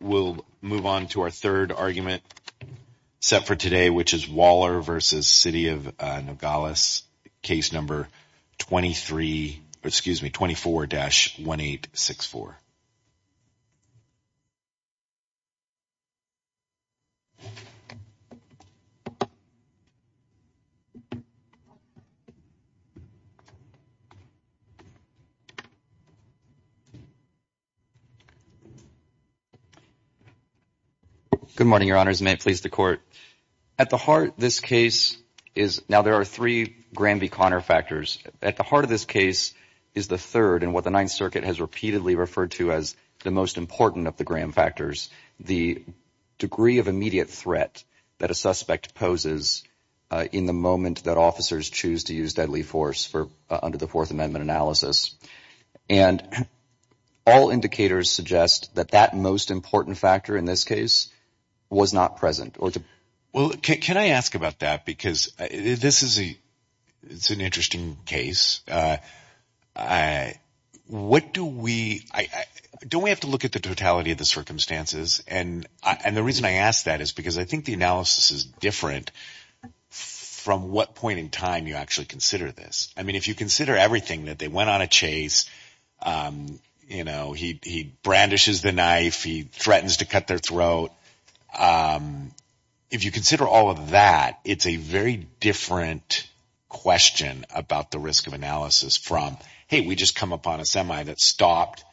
We'll move on to our third argument set for today, which is Waller versus City of Nogales, case number 24-1864. Good morning, Your Honors. May it please the Court. At the heart of this case is – now, there are three Graham v. Conner factors. At the heart of this case is the third and what the Ninth Circuit has repeatedly referred to as the most important of the Graham factors, the degree of immediate threat that a suspect poses in the moment that officers choose to use deadly force under the Fourth Amendment analysis. And all indicators suggest that that most important factor in this case was not present. Well, can I ask about that because this is a – it's an interesting case. What do we – don't we have to look at the totality of the circumstances? And the reason I ask that is because I think the analysis is different from what point in time you actually consider this. I mean, if you consider everything that they went on a chase, he brandishes the knife, he threatens to cut their throat. If you consider all of that, it's a very different question about the risk of analysis from, hey, we just come upon a semi that stopped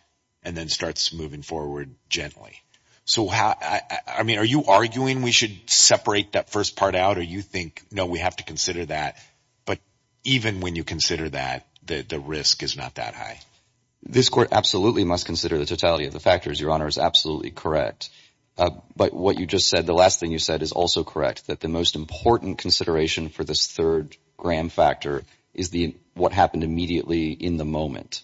and then starts moving forward gently. So, I mean, are you arguing we should separate that first part out or you think, no, we have to consider that? But even when you consider that, the risk is not that high. This court absolutely must consider the totality of the factors. Your Honor is absolutely correct. But what you just said, the last thing you said is also correct, that the most important consideration for this third Graham factor is what happened immediately in the moment.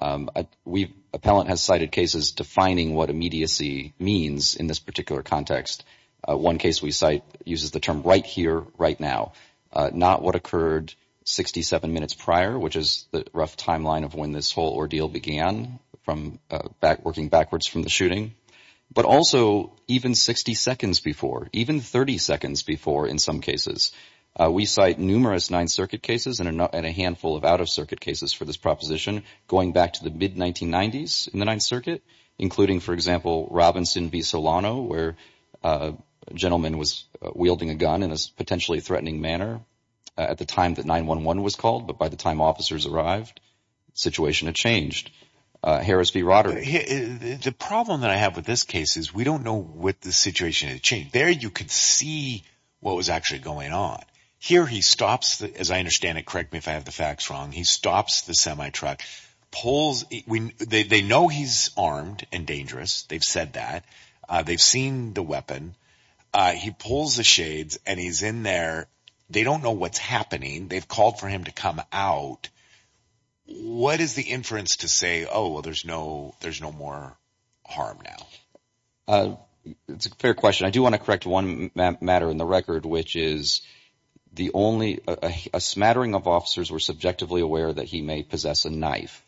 Appellant has cited cases defining what immediacy means in this particular context. One case we cite uses the term right here, right now, not what occurred 67 minutes prior, which is the rough timeline of when this whole ordeal began from back working backwards from the shooting, but also even 60 seconds before, even 30 seconds before. In some cases, we cite numerous Ninth Circuit cases and a handful of out-of-circuit cases for this proposition. Going back to the mid-1990s in the Ninth Circuit, including, for example, Robinson v. Solano, where a gentleman was wielding a gun in a potentially threatening manner at the time that 911 was called. But by the time officers arrived, the situation had changed. Harris v. Roderick. The problem that I have with this case is we don't know what the situation had changed. There you could see what was actually going on. Here he stops. As I understand it, correct me if I have the facts wrong. He stops the semi-truck, pulls. They know he's armed and dangerous. They've said that. They've seen the weapon. He pulls the shades, and he's in there. They don't know what's happening. They've called for him to come out. What is the inference to say, oh, well, there's no more harm now? It's a fair question. I do want to correct one matter in the record, which is a smattering of officers were subjectively aware that he may possess a knife.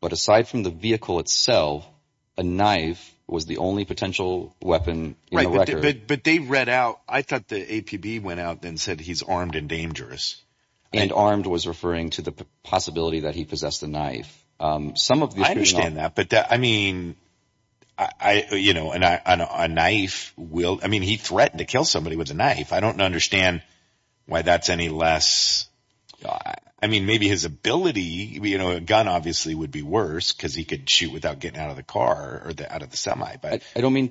But aside from the vehicle itself, a knife was the only potential weapon in the record. But they read out. I thought the APB went out and said he's armed and dangerous. And armed was referring to the possibility that he possessed a knife. I understand that. But, I mean, a knife will – I mean, he threatened to kill somebody with a knife. I don't understand why that's any less – I mean, maybe his ability, a gun obviously would be worse because he could shoot without getting out of the car or out of the semi. I don't mean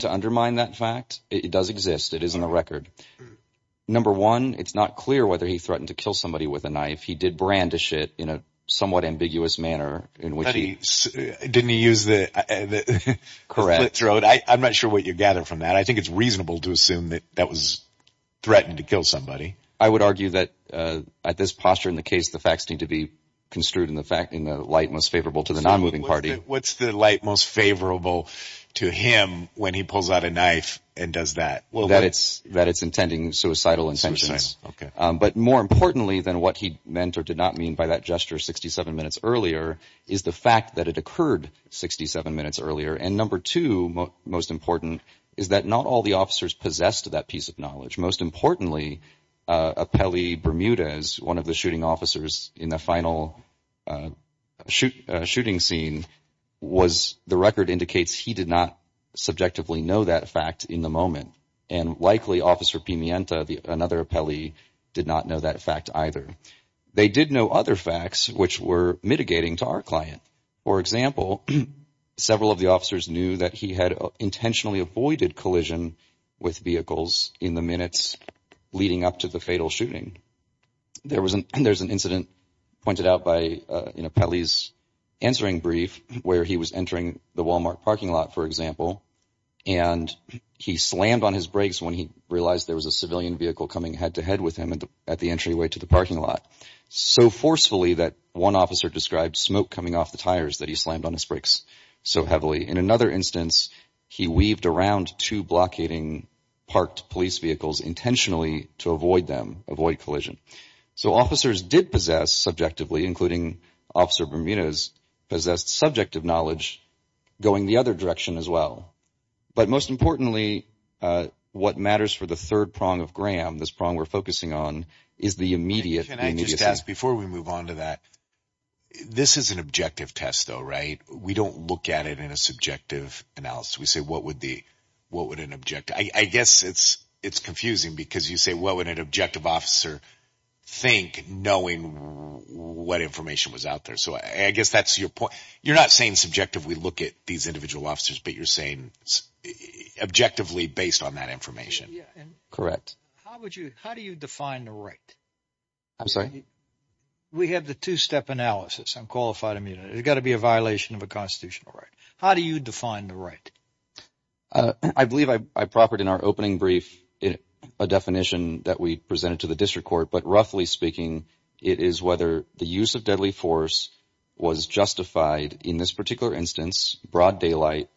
to undermine that fact. It does exist. It is in the record. Number one, it's not clear whether he threatened to kill somebody with a knife. He did brandish it in a somewhat ambiguous manner in which he – Didn't he use the – Correct. I'm not sure what you gather from that. I think it's reasonable to assume that that was threatened to kill somebody. I would argue that at this posture in the case, the facts need to be construed in the light most favorable to the nonmoving party. What's the light most favorable to him when he pulls out a knife and does that? That it's intending suicidal intentions. Suicidal, okay. But more importantly than what he meant or did not mean by that gesture 67 minutes earlier is the fact that it occurred 67 minutes earlier. And number two, most important, is that not all the officers possessed that piece of knowledge. Most importantly, Apelli Bermudez, one of the shooting officers in the final shooting scene, was – the record indicates he did not subjectively know that fact in the moment. And likely, Officer Pimienta, another Apelli, did not know that fact either. They did know other facts which were mitigating to our client. For example, several of the officers knew that he had intentionally avoided collision with vehicles in the minutes leading up to the fatal shooting. There was an incident pointed out by Apelli's answering brief where he was entering the Walmart parking lot, for example, and he slammed on his brakes when he realized there was a civilian vehicle coming head-to-head with him at the entryway to the parking lot. So forcefully that one officer described smoke coming off the tires that he slammed on his brakes so heavily. In another instance, he weaved around two blockading parked police vehicles intentionally to avoid them, avoid collision. So officers did possess subjectively, including Officer Bermudez, possessed subjective knowledge going the other direction as well. But most importantly, what matters for the third prong of Graham, this prong we're focusing on, is the immediate – Can I just ask, before we move on to that, this is an objective test though, right? We don't look at it in a subjective analysis. We say what would an objective – I guess it's confusing because you say what would an objective officer think knowing what information was out there. So I guess that's your point. You're not saying subjectively look at these individual officers, but you're saying objectively based on that information. Correct. How would you – how do you define the right? I'm sorry? We have the two-step analysis on qualified immunity. There's got to be a violation of a constitutional right. How do you define the right? I believe I proffered in our opening brief a definition that we presented to the district court. But roughly speaking, it is whether the use of deadly force was justified in this particular instance, broad daylight,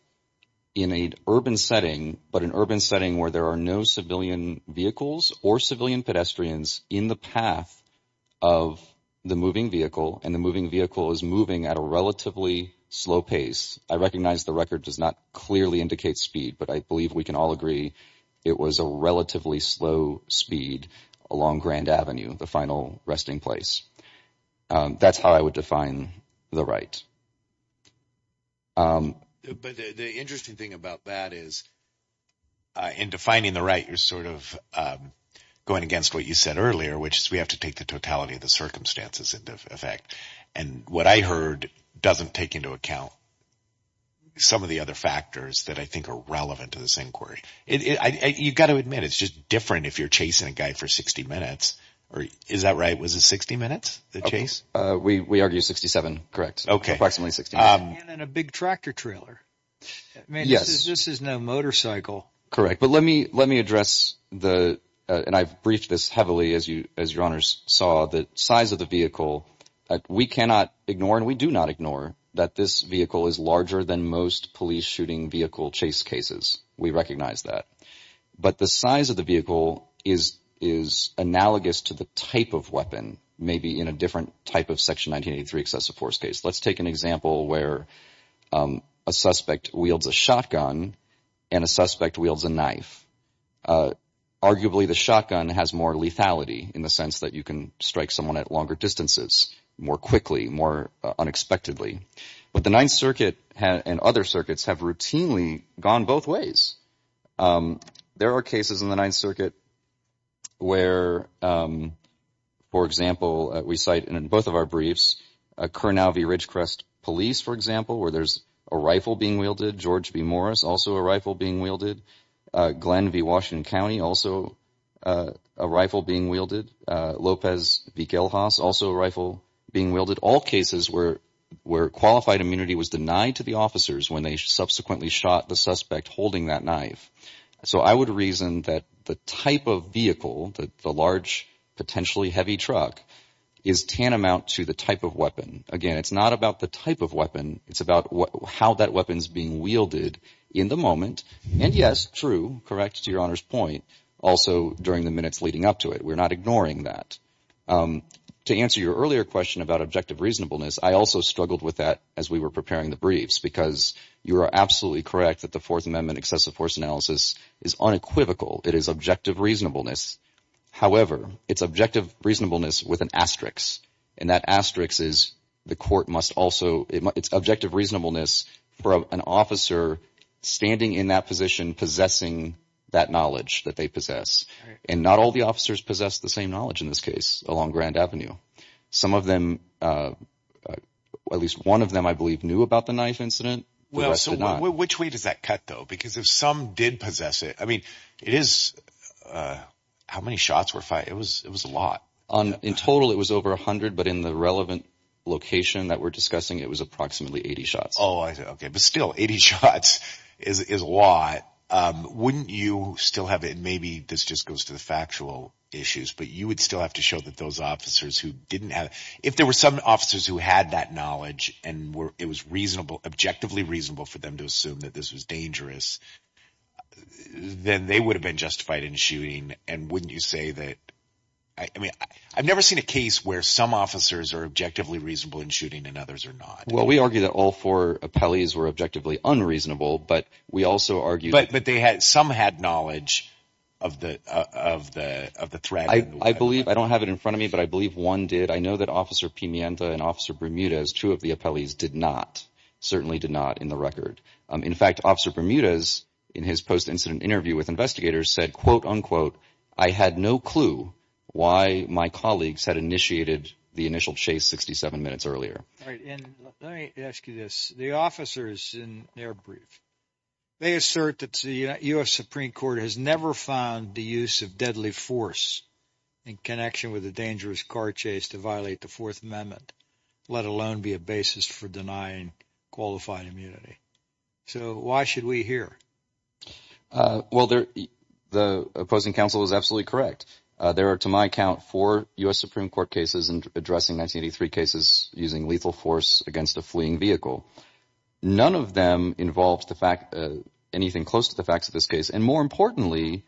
in an urban setting, but an urban setting where there are no civilian vehicles or civilian pedestrians in the path of the moving vehicle and the moving vehicle is moving at a relatively slow pace. I recognize the record does not clearly indicate speed, but I believe we can all agree it was a relatively slow speed along Grand Avenue, the final resting place. That's how I would define the right. But the interesting thing about that is in defining the right, you're sort of going against what you said earlier, which is we have to take the totality of the circumstances into effect. And what I heard doesn't take into account some of the other factors that I think are relevant to this inquiry. You've got to admit it's just different if you're chasing a guy for 60 minutes. Is that right? Was it 60 minutes, the chase? We argue 67, correct. Approximately 67. And in a big tractor trailer. Yes. This is no motorcycle. Correct. But let me let me address the and I've briefed this heavily as you as your honors saw the size of the vehicle. We cannot ignore and we do not ignore that this vehicle is larger than most police shooting vehicle chase cases. We recognize that. But the size of the vehicle is is analogous to the type of weapon, maybe in a different type of Section 1983 excessive force case. Let's take an example where a suspect wields a shotgun and a suspect wields a knife. Arguably, the shotgun has more lethality in the sense that you can strike someone at longer distances more quickly, more unexpectedly. But the Ninth Circuit and other circuits have routinely gone both ways. There are cases in the Ninth Circuit where, for example, we cite and in both of our briefs, a current RV Ridgecrest police, for example, where there's a rifle being wielded. George B. Morris, also a rifle being wielded. Glenn v. Washington County, also a rifle being wielded. Lopez v. Gilhas, also a rifle being wielded. All cases where where qualified immunity was denied to the officers when they subsequently shot the suspect holding that knife. So I would reason that the type of vehicle that the large, potentially heavy truck is tantamount to the type of weapon. Again, it's not about the type of weapon. It's about how that weapon is being wielded in the moment. And yes, true. Correct. To your honor's point. Also, during the minutes leading up to it, we're not ignoring that. To answer your earlier question about objective reasonableness, I also struggled with that as we were preparing the briefs, because you are absolutely correct that the Fourth Amendment excessive force analysis is unequivocal. It is objective reasonableness. However, it's objective reasonableness with an asterisk. And that asterisk is the court must also it's objective reasonableness for an officer standing in that position, possessing that knowledge that they possess. And not all the officers possess the same knowledge in this case along Grand Avenue. Some of them, at least one of them, I believe, knew about the knife incident. So which way does that cut, though? Because if some did possess it, I mean, it is how many shots were fired? It was it was a lot. In total, it was over 100. But in the relevant location that we're discussing, it was approximately 80 shots. Oh, OK. But still, 80 shots is a lot. Now, wouldn't you still have it? And maybe this just goes to the factual issues. But you would still have to show that those officers who didn't have if there were some officers who had that knowledge and it was reasonable, objectively reasonable for them to assume that this was dangerous, then they would have been justified in shooting. And wouldn't you say that? I mean, I've never seen a case where some officers are objectively reasonable in shooting and others are not. Well, we argue that all four appellees were objectively unreasonable, but we also argue. But they had some had knowledge of the of the of the threat. I believe I don't have it in front of me, but I believe one did. I know that Officer Pimenta and Officer Bermudez, two of the appellees, did not. Certainly did not in the record. In fact, Officer Bermudez, in his post incident interview with investigators, said, quote, unquote, I had no clue why my colleagues had initiated the initial chase 67 minutes earlier. All right. And let me ask you this. The officers in their brief, they assert that the U.S. Supreme Court has never found the use of deadly force in connection with the dangerous car chase to violate the Fourth Amendment, let alone be a basis for denying qualified immunity. So why should we hear? Well, the opposing counsel is absolutely correct. There are, to my account, four U.S. Supreme Court cases and addressing 1983 cases using lethal force against a fleeing vehicle. None of them involves the fact anything close to the facts of this case. And more importantly,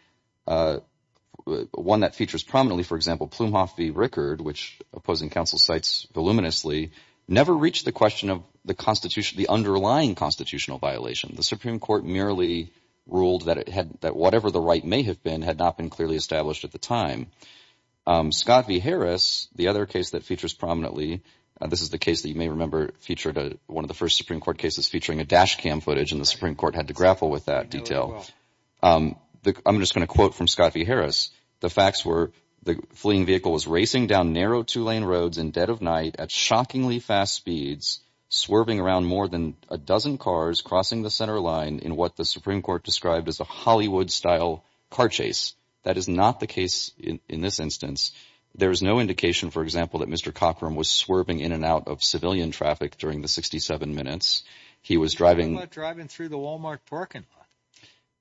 one that features prominently, for example, Plumhoff v. Rickard, which opposing counsel cites voluminously, never reached the question of the constitution, the underlying constitutional violation. The Supreme Court merely ruled that it had that whatever the right may have been had not been clearly established at the time. Scott v. Harris, the other case that features prominently. This is the case that you may remember featured one of the first Supreme Court cases featuring a dash cam footage. And the Supreme Court had to grapple with that detail. I'm just going to quote from Scott v. Harris. The facts were the fleeing vehicle was racing down narrow two lane roads in dead of night at shockingly fast speeds, swerving around more than a dozen cars crossing the center line in what the Supreme Court described as a Hollywood style car chase. That is not the case in this instance. There is no indication, for example, that Mr. Cochran was swerving in and out of civilian traffic during the 67 minutes he was driving, driving through the Wal-Mart parking lot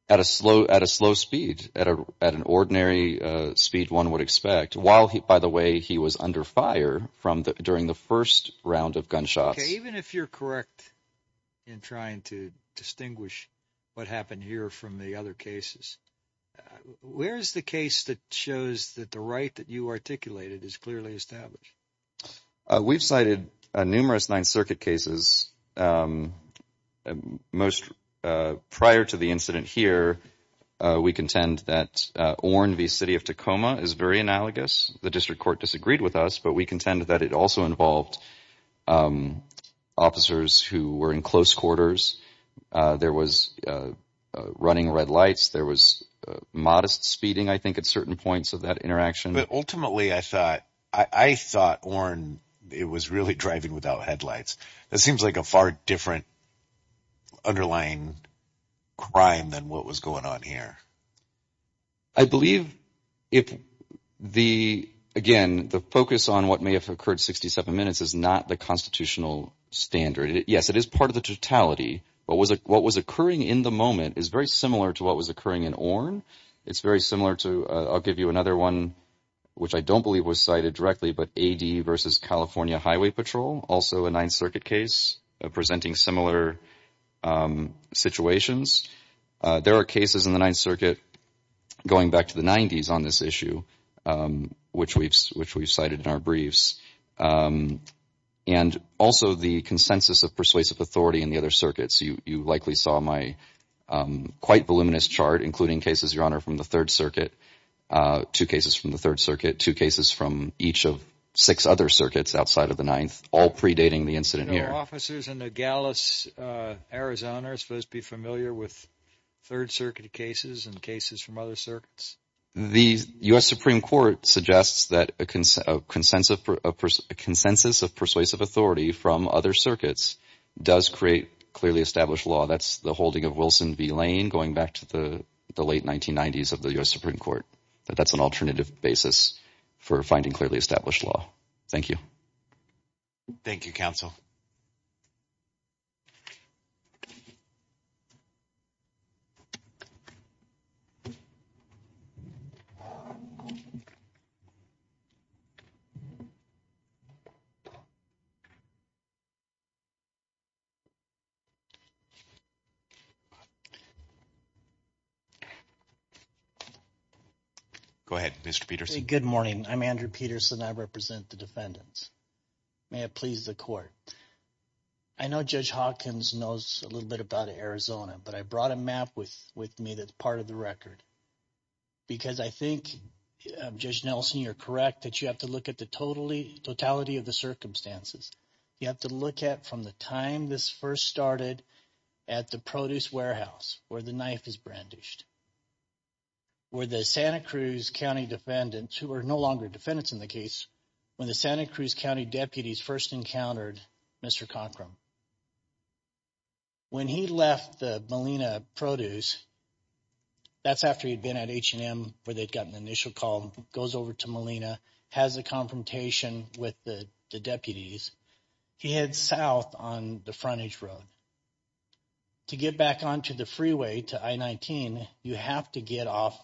at a slow, at a slow speed at a at an ordinary speed one would expect while he by the way, he was under fire from during the first round of gunshots. Even if you're correct in trying to distinguish what happened here from the other cases, where is the case that shows that the right that you articulated is clearly established? We've cited numerous Ninth Circuit cases. Most prior to the incident here, we contend that Orne v. City of Tacoma is very analogous. The district court disagreed with us, but we contend that it also involved officers who were in close quarters. There was running red lights. There was modest speeding, I think, at certain points of that interaction. But ultimately, I thought I thought Orne, it was really driving without headlights. That seems like a far different underlying crime than what was going on here. I believe if the again, the focus on what may have occurred 67 minutes is not the constitutional standard. Yes, it is part of the totality. But what was occurring in the moment is very similar to what was occurring in Orne. It's very similar to I'll give you another one, which I don't believe was cited directly, but A.D. versus California Highway Patrol, also a Ninth Circuit case presenting similar situations. There are cases in the Ninth Circuit going back to the 90s on this issue, which we've which we've cited in our briefs. And also the consensus of persuasive authority in the other circuits. You likely saw my quite voluminous chart, including cases, Your Honor, from the Third Circuit, two cases from the Third Circuit, two cases from each of six other circuits outside of the ninth, all predating the incident. No officers in the gallows. Arizona is supposed to be familiar with third circuit cases and cases from other circuits. The U.S. Supreme Court suggests that a consensus of consensus of persuasive authority from other circuits does create clearly established law. That's the holding of Wilson v. Lane going back to the late 1990s of the U.S. Supreme Court. But that's an alternative basis for finding clearly established law. Thank you. Thank you, counsel. Go ahead, Mr. Peterson. Good morning. I'm Andrew Peterson. I represent the defendants. May it please the court. I know Judge Hawkins knows a little bit about Arizona, but I brought a map with with me that's part of the record. Because I think, Judge Nelson, you're correct that you have to look at the totally totality of the circumstances. You have to look at from the time this first started at the produce warehouse where the knife is brandished. Where the Santa Cruz County defendants, who are no longer defendants in the case, when the Santa Cruz County deputies first encountered Mr. Conkrum. When he left the Molina produce, that's after he'd been at H&M where they'd gotten the initial call, goes over to Molina, has a confrontation with the deputies. He heads south on the frontage road to get back onto the freeway to I-19. You have to get off.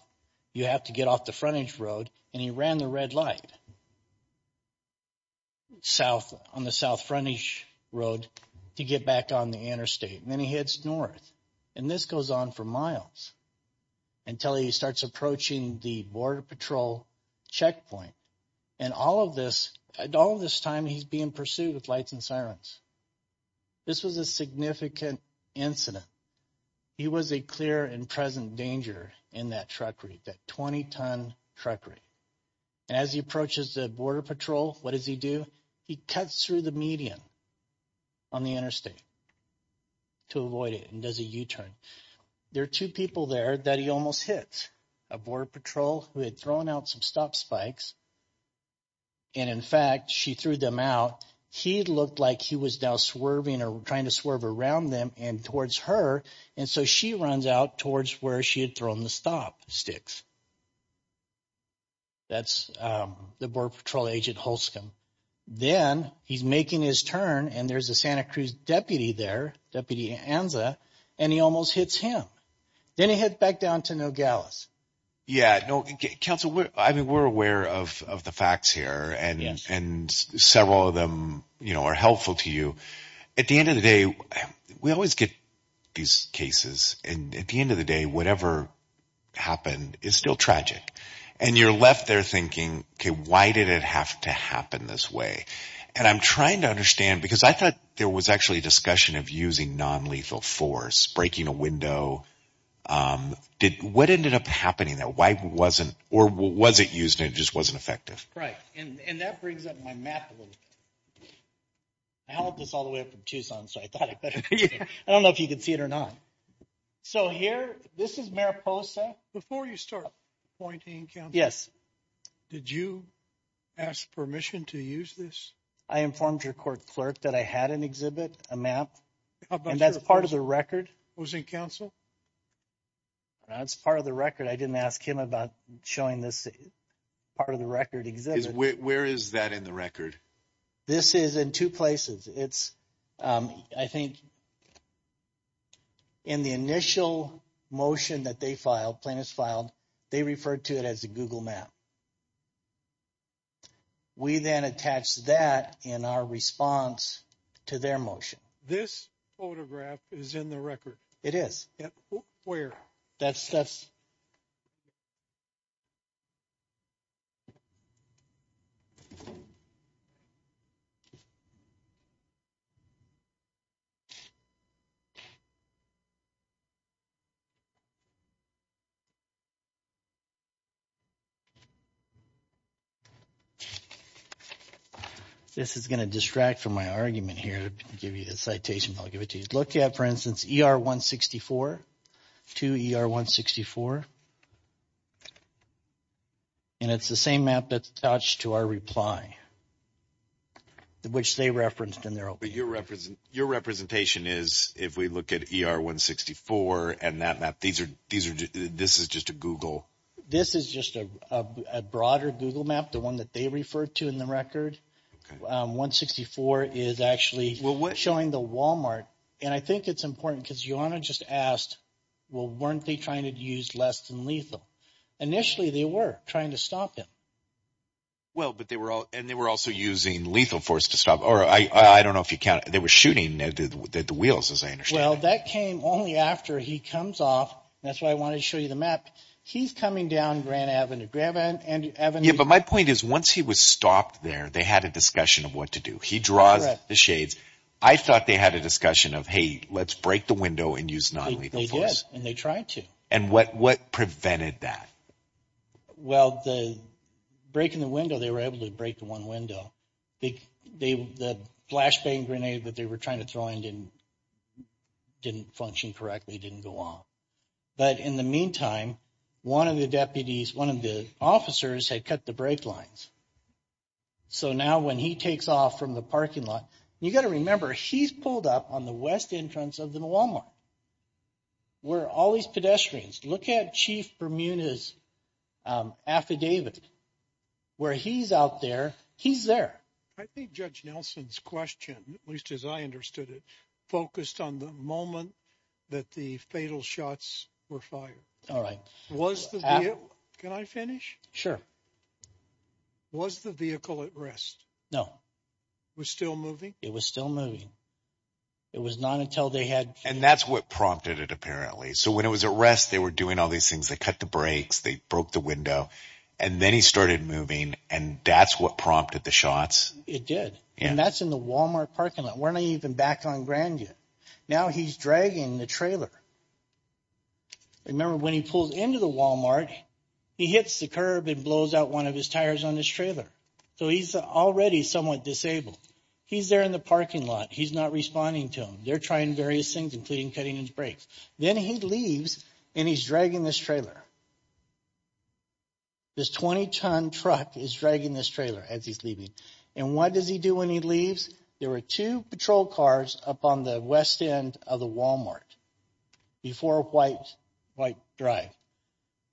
You have to get off the frontage road. And he ran the red light south on the south frontage road to get back on the interstate. And then he heads north. And this goes on for miles until he starts approaching the Border Patrol checkpoint. And all of this time he's being pursued with lights and sirens. This was a significant incident. He was a clear and present danger in that truckery, that 20-ton truckery. And as he approaches the Border Patrol, what does he do? He cuts through the median on the interstate to avoid it and does a U-turn. There are two people there that he almost hit, a Border Patrol who had thrown out some stop spikes. And in fact, she threw them out. He looked like he was now swerving or trying to swerve around them and towards her. And so she runs out towards where she had thrown the stop sticks. That's the Border Patrol Agent Holscomb. Then he's making his turn and there's a Santa Cruz deputy there, Deputy Anza, and he almost hits him. Then he heads back down to Nogales. Yeah. Council, we're aware of the facts here and several of them are helpful to you. At the end of the day, we always get these cases. And at the end of the day, whatever happened is still tragic. And you're left there thinking, okay, why did it have to happen this way? And I'm trying to understand because I thought there was actually a discussion of using nonlethal force, breaking a window. What ended up happening there? Why wasn't or was it used and it just wasn't effective? Right. And that brings up my map a little bit. I hauled this all the way up from Tucson, so I thought I better – I don't know if you can see it or not. So here, this is Mariposa. Before you start pointing, Council. Yes. Did you ask permission to use this? I informed your court clerk that I had an exhibit, a map. And that's part of the record. It was in Council? That's part of the record. I didn't ask him about showing this part of the record exhibit. Where is that in the record? This is in two places. It's – I think in the initial motion that they filed, plaintiffs filed, they referred to it as a Google map. We then attached that in our response to their motion. This photograph is in the record? It is. Where? That's – This is going to distract from my argument here to give you the citation, but I'll give it to you. If you look at, for instance, ER-164 to ER-164, and it's the same map that's attached to our reply, which they referenced in their – But your representation is, if we look at ER-164 and that map, these are – this is just a Google – This is just a broader Google map, the one that they referred to in the record. Okay. ER-164 is actually showing the Walmart, and I think it's important because Joanna just asked, well, weren't they trying to use less than lethal? Initially, they were trying to stop him. Well, but they were also using lethal force to stop – or I don't know if you counted. They were shooting at the wheels, as I understand. Well, that came only after he comes off, and that's why I wanted to show you the map. He's coming down Grand Avenue. Yeah, but my point is once he was stopped there, they had a discussion of what to do. He draws the shades. I thought they had a discussion of, hey, let's break the window and use nonlethal force. They did, and they tried to. And what prevented that? Well, breaking the window, they were able to break the one window. The flashbang grenade that they were trying to throw in didn't function correctly. It didn't go off. But in the meantime, one of the deputies, one of the officers had cut the brake lines. So now when he takes off from the parking lot, you've got to remember he's pulled up on the west entrance of the Walmart. Where all these pedestrians – look at Chief Bermuda's affidavit. Where he's out there, he's there. I think Judge Nelson's question, at least as I understood it, focused on the moment that the fatal shots were fired. All right. Was the – can I finish? Sure. Was the vehicle at rest? No. It was still moving? It was still moving. It was not until they had – And that's what prompted it apparently. So when it was at rest, they were doing all these things. They cut the brakes. They broke the window. And then he started moving, and that's what prompted the shots? It did. And that's in the Walmart parking lot. We're not even back on Grand yet. Now he's dragging the trailer. Remember, when he pulls into the Walmart, he hits the curb and blows out one of his tires on his trailer. So he's already somewhat disabled. He's there in the parking lot. He's not responding to them. They're trying various things, including cutting his brakes. Then he leaves, and he's dragging this trailer. This 20-ton truck is dragging this trailer as he's leaving. And what does he do when he leaves? There were two patrol cars up on the west end of the Walmart before White Drive.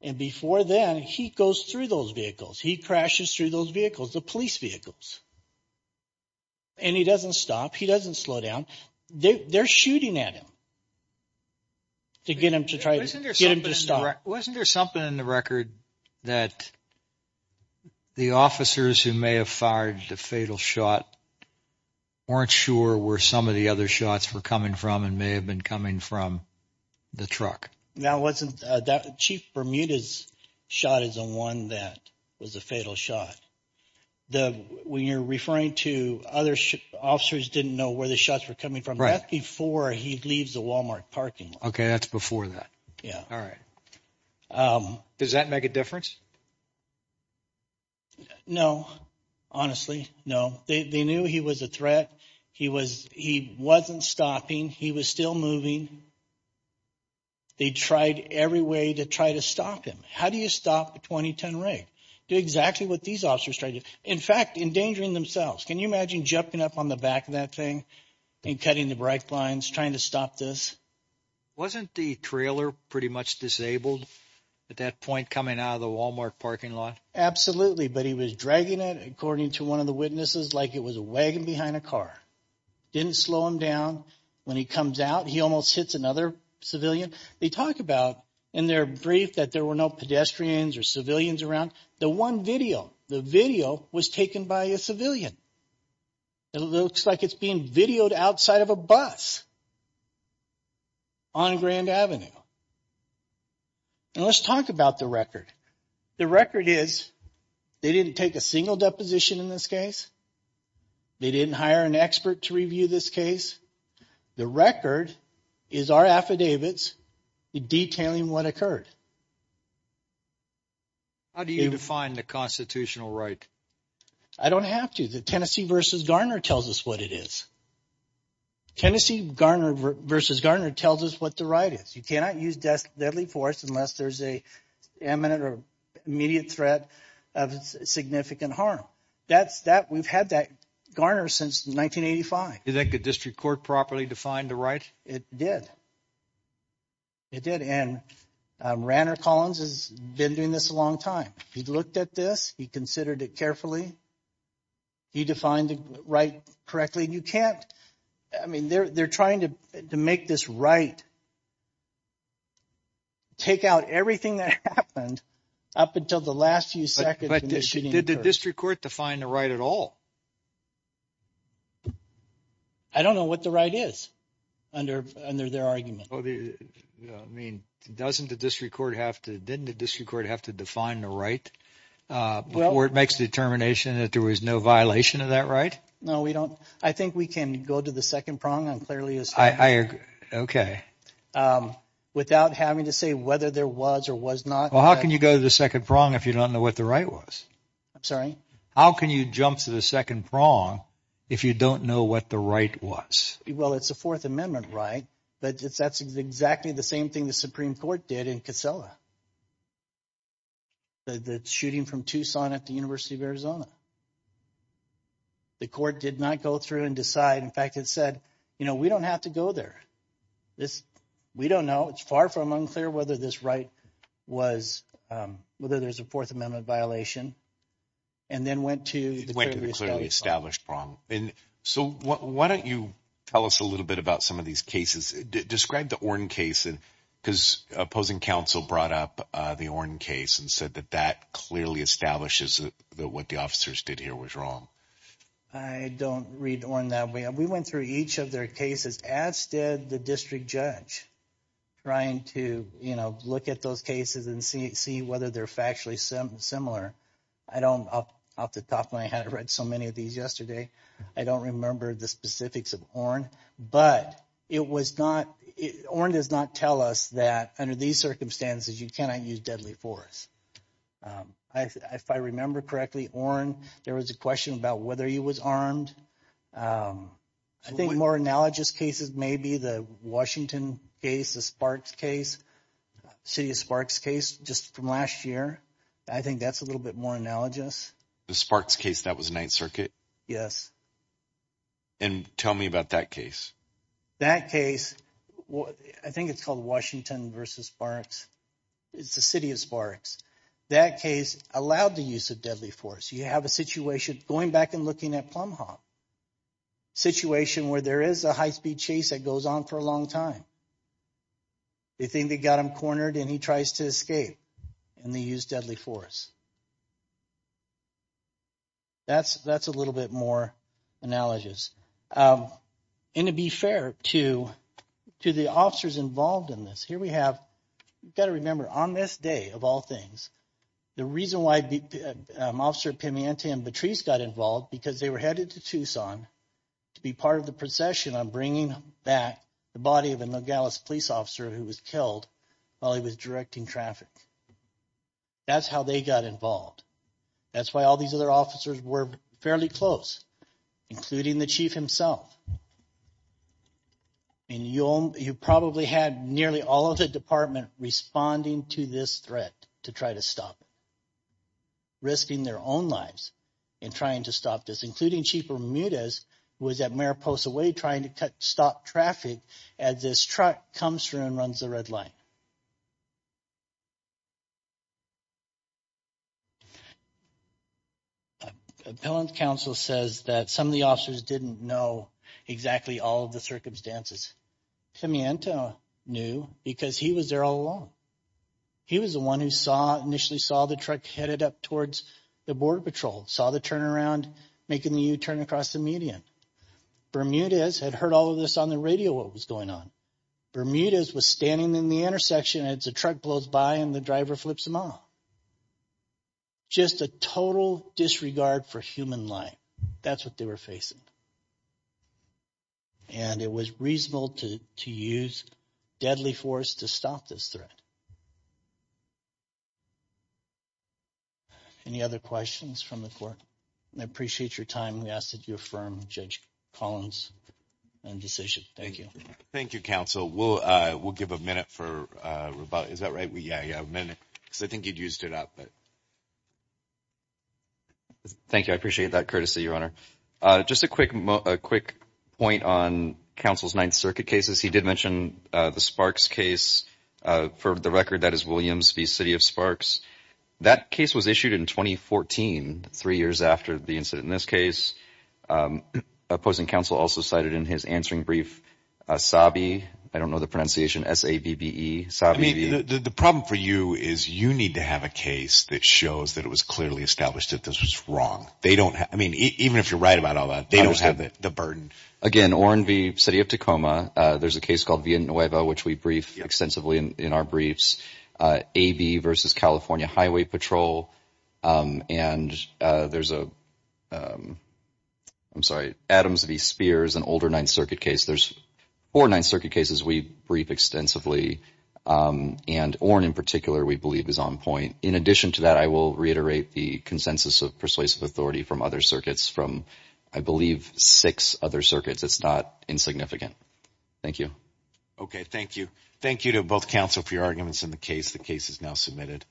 And before then, he goes through those vehicles. He crashes through those vehicles, the police vehicles. And he doesn't stop. He doesn't slow down. They're shooting at him to get him to try to get him to stop. Wasn't there something in the record that the officers who may have fired the fatal shot weren't sure where some of the other shots were coming from and may have been coming from the truck? No, it wasn't. Chief Bermuda's shot is the one that was a fatal shot. When you're referring to other officers didn't know where the shots were coming from, that's before he leaves the Walmart parking lot. Okay, that's before that. Yeah. All right. Does that make a difference? No, honestly, no. They knew he was a threat. He wasn't stopping. He was still moving. They tried every way to try to stop him. How do you stop a 20-ton wreck? Do exactly what these officers tried to do. In fact, endangering themselves. Can you imagine jumping up on the back of that thing and cutting the break lines trying to stop this? Wasn't the trailer pretty much disabled at that point coming out of the Walmart parking lot? Absolutely, but he was dragging it, according to one of the witnesses, like it was a wagon behind a car. Didn't slow him down. When he comes out, he almost hits another civilian. They talk about in their brief that there were no pedestrians or civilians around. The one video, the video was taken by a civilian. It looks like it's being videoed outside of a bus on Grand Avenue. And let's talk about the record. The record is they didn't take a single deposition in this case. They didn't hire an expert to review this case. The record is our affidavits detailing what occurred. How do you define the constitutional right? I don't have to. The Tennessee v. Garner tells us what it is. Tennessee v. Garner tells us what the right is. You cannot use deadly force unless there's an imminent or immediate threat of significant harm. We've had that Garner since 1985. Do you think the district court properly defined the right? It did. It did. And Ranner Collins has been doing this a long time. He looked at this. He considered it carefully. He defined the right correctly. You can't. I mean, they're trying to make this right. Take out everything that happened up until the last few seconds. But did the district court define the right at all? I don't know what the right is under their argument. I mean, doesn't the district court have to – didn't the district court have to define the right before it makes the determination that there was no violation of that right? No, we don't. I think we can go to the second prong unclearly as to whether there was or was not. Well, how can you go to the second prong if you don't know what the right was? I'm sorry? How can you jump to the second prong if you don't know what the right was? Well, it's a Fourth Amendment right, but that's exactly the same thing the Supreme Court did in Kissela, the shooting from Tucson at the University of Arizona. The court did not go through and decide. In fact, it said, you know, we don't have to go there. We don't know. It's far from unclear whether this right was – whether there's a Fourth Amendment violation and then went to the clearly established prong. And so why don't you tell us a little bit about some of these cases? Describe the Ornn case because opposing counsel brought up the Ornn case and said that that clearly establishes that what the officers did here was wrong. I don't read Ornn that way. We went through each of their cases as did the district judge trying to, you know, look at those cases and see whether they're factually similar. I don't – off the top of my head, I read so many of these yesterday. I don't remember the specifics of Ornn. But it was not – Ornn does not tell us that under these circumstances you cannot use deadly force. If I remember correctly, Ornn, there was a question about whether he was armed. I think more analogous cases may be the Washington case, the Sparks case, City of Sparks case just from last year. I think that's a little bit more analogous. The Sparks case that was Ninth Circuit? Yes. And tell me about that case. That case, I think it's called Washington v. Sparks. It's the City of Sparks. That case allowed the use of deadly force. You have a situation, going back and looking at Plum Hawk, situation where there is a high-speed chase that goes on for a long time. They think they got him cornered and he tries to escape, and they use deadly force. That's a little bit more analogous. And to be fair to the officers involved in this, here we have – you've got to remember, on this day, of all things, the reason why Officer Pimenty and Patrice got involved, because they were headed to Tucson to be part of the procession on bringing back the body of a Nogales police officer who was killed while he was directing traffic. That's how they got involved. That's why all these other officers were fairly close, including the chief himself. And you probably had nearly all of the department responding to this threat to try to stop it, risking their own lives in trying to stop this, including Chief Bermudez, who was at Mariposa Way trying to stop traffic as this truck comes through and runs the red light. Appellant counsel says that some of the officers didn't know exactly all of the circumstances. Pimiente knew because he was there all along. He was the one who saw – initially saw the truck headed up towards the Border Patrol, saw the turnaround, making the U-turn across the median. Bermudez had heard all of this on the radio, what was going on. Bermudez was standing in the intersection as the truck blows by and the driver flips him off. Just a total disregard for human life. That's what they were facing. And it was reasonable to use deadly force to stop this threat. Any other questions from the court? I appreciate your time. We ask that you affirm Judge Collins' decision. Thank you. Thank you, counsel. We'll give a minute for rebuttal. Is that right? Yeah, you have a minute because I think you'd used it up. Thank you. I appreciate that courtesy, Your Honor. Just a quick point on counsel's Ninth Circuit cases. He did mention the Sparks case. For the record, that is Williams v. City of Sparks. That case was issued in 2014, three years after the incident in this case. Opposing counsel also cited in his answering brief, Sabi, I don't know the pronunciation, S-A-B-B-E. The problem for you is you need to have a case that shows that it was clearly established that this was wrong. Even if you're right about all that, they don't have the burden. Again, Oren v. City of Tacoma. There's a case called Villanueva, which we brief extensively in our briefs. AB v. California Highway Patrol. And there's a, I'm sorry, Adams v. Spears, an older Ninth Circuit case. There's four Ninth Circuit cases we brief extensively, and Oren in particular we believe is on point. In addition to that, I will reiterate the consensus of persuasive authority from other circuits, from, I believe, six other circuits. It's not insignificant. Thank you. Okay, thank you. Thank you to both counsel for your arguments in the case. The case is now submitted.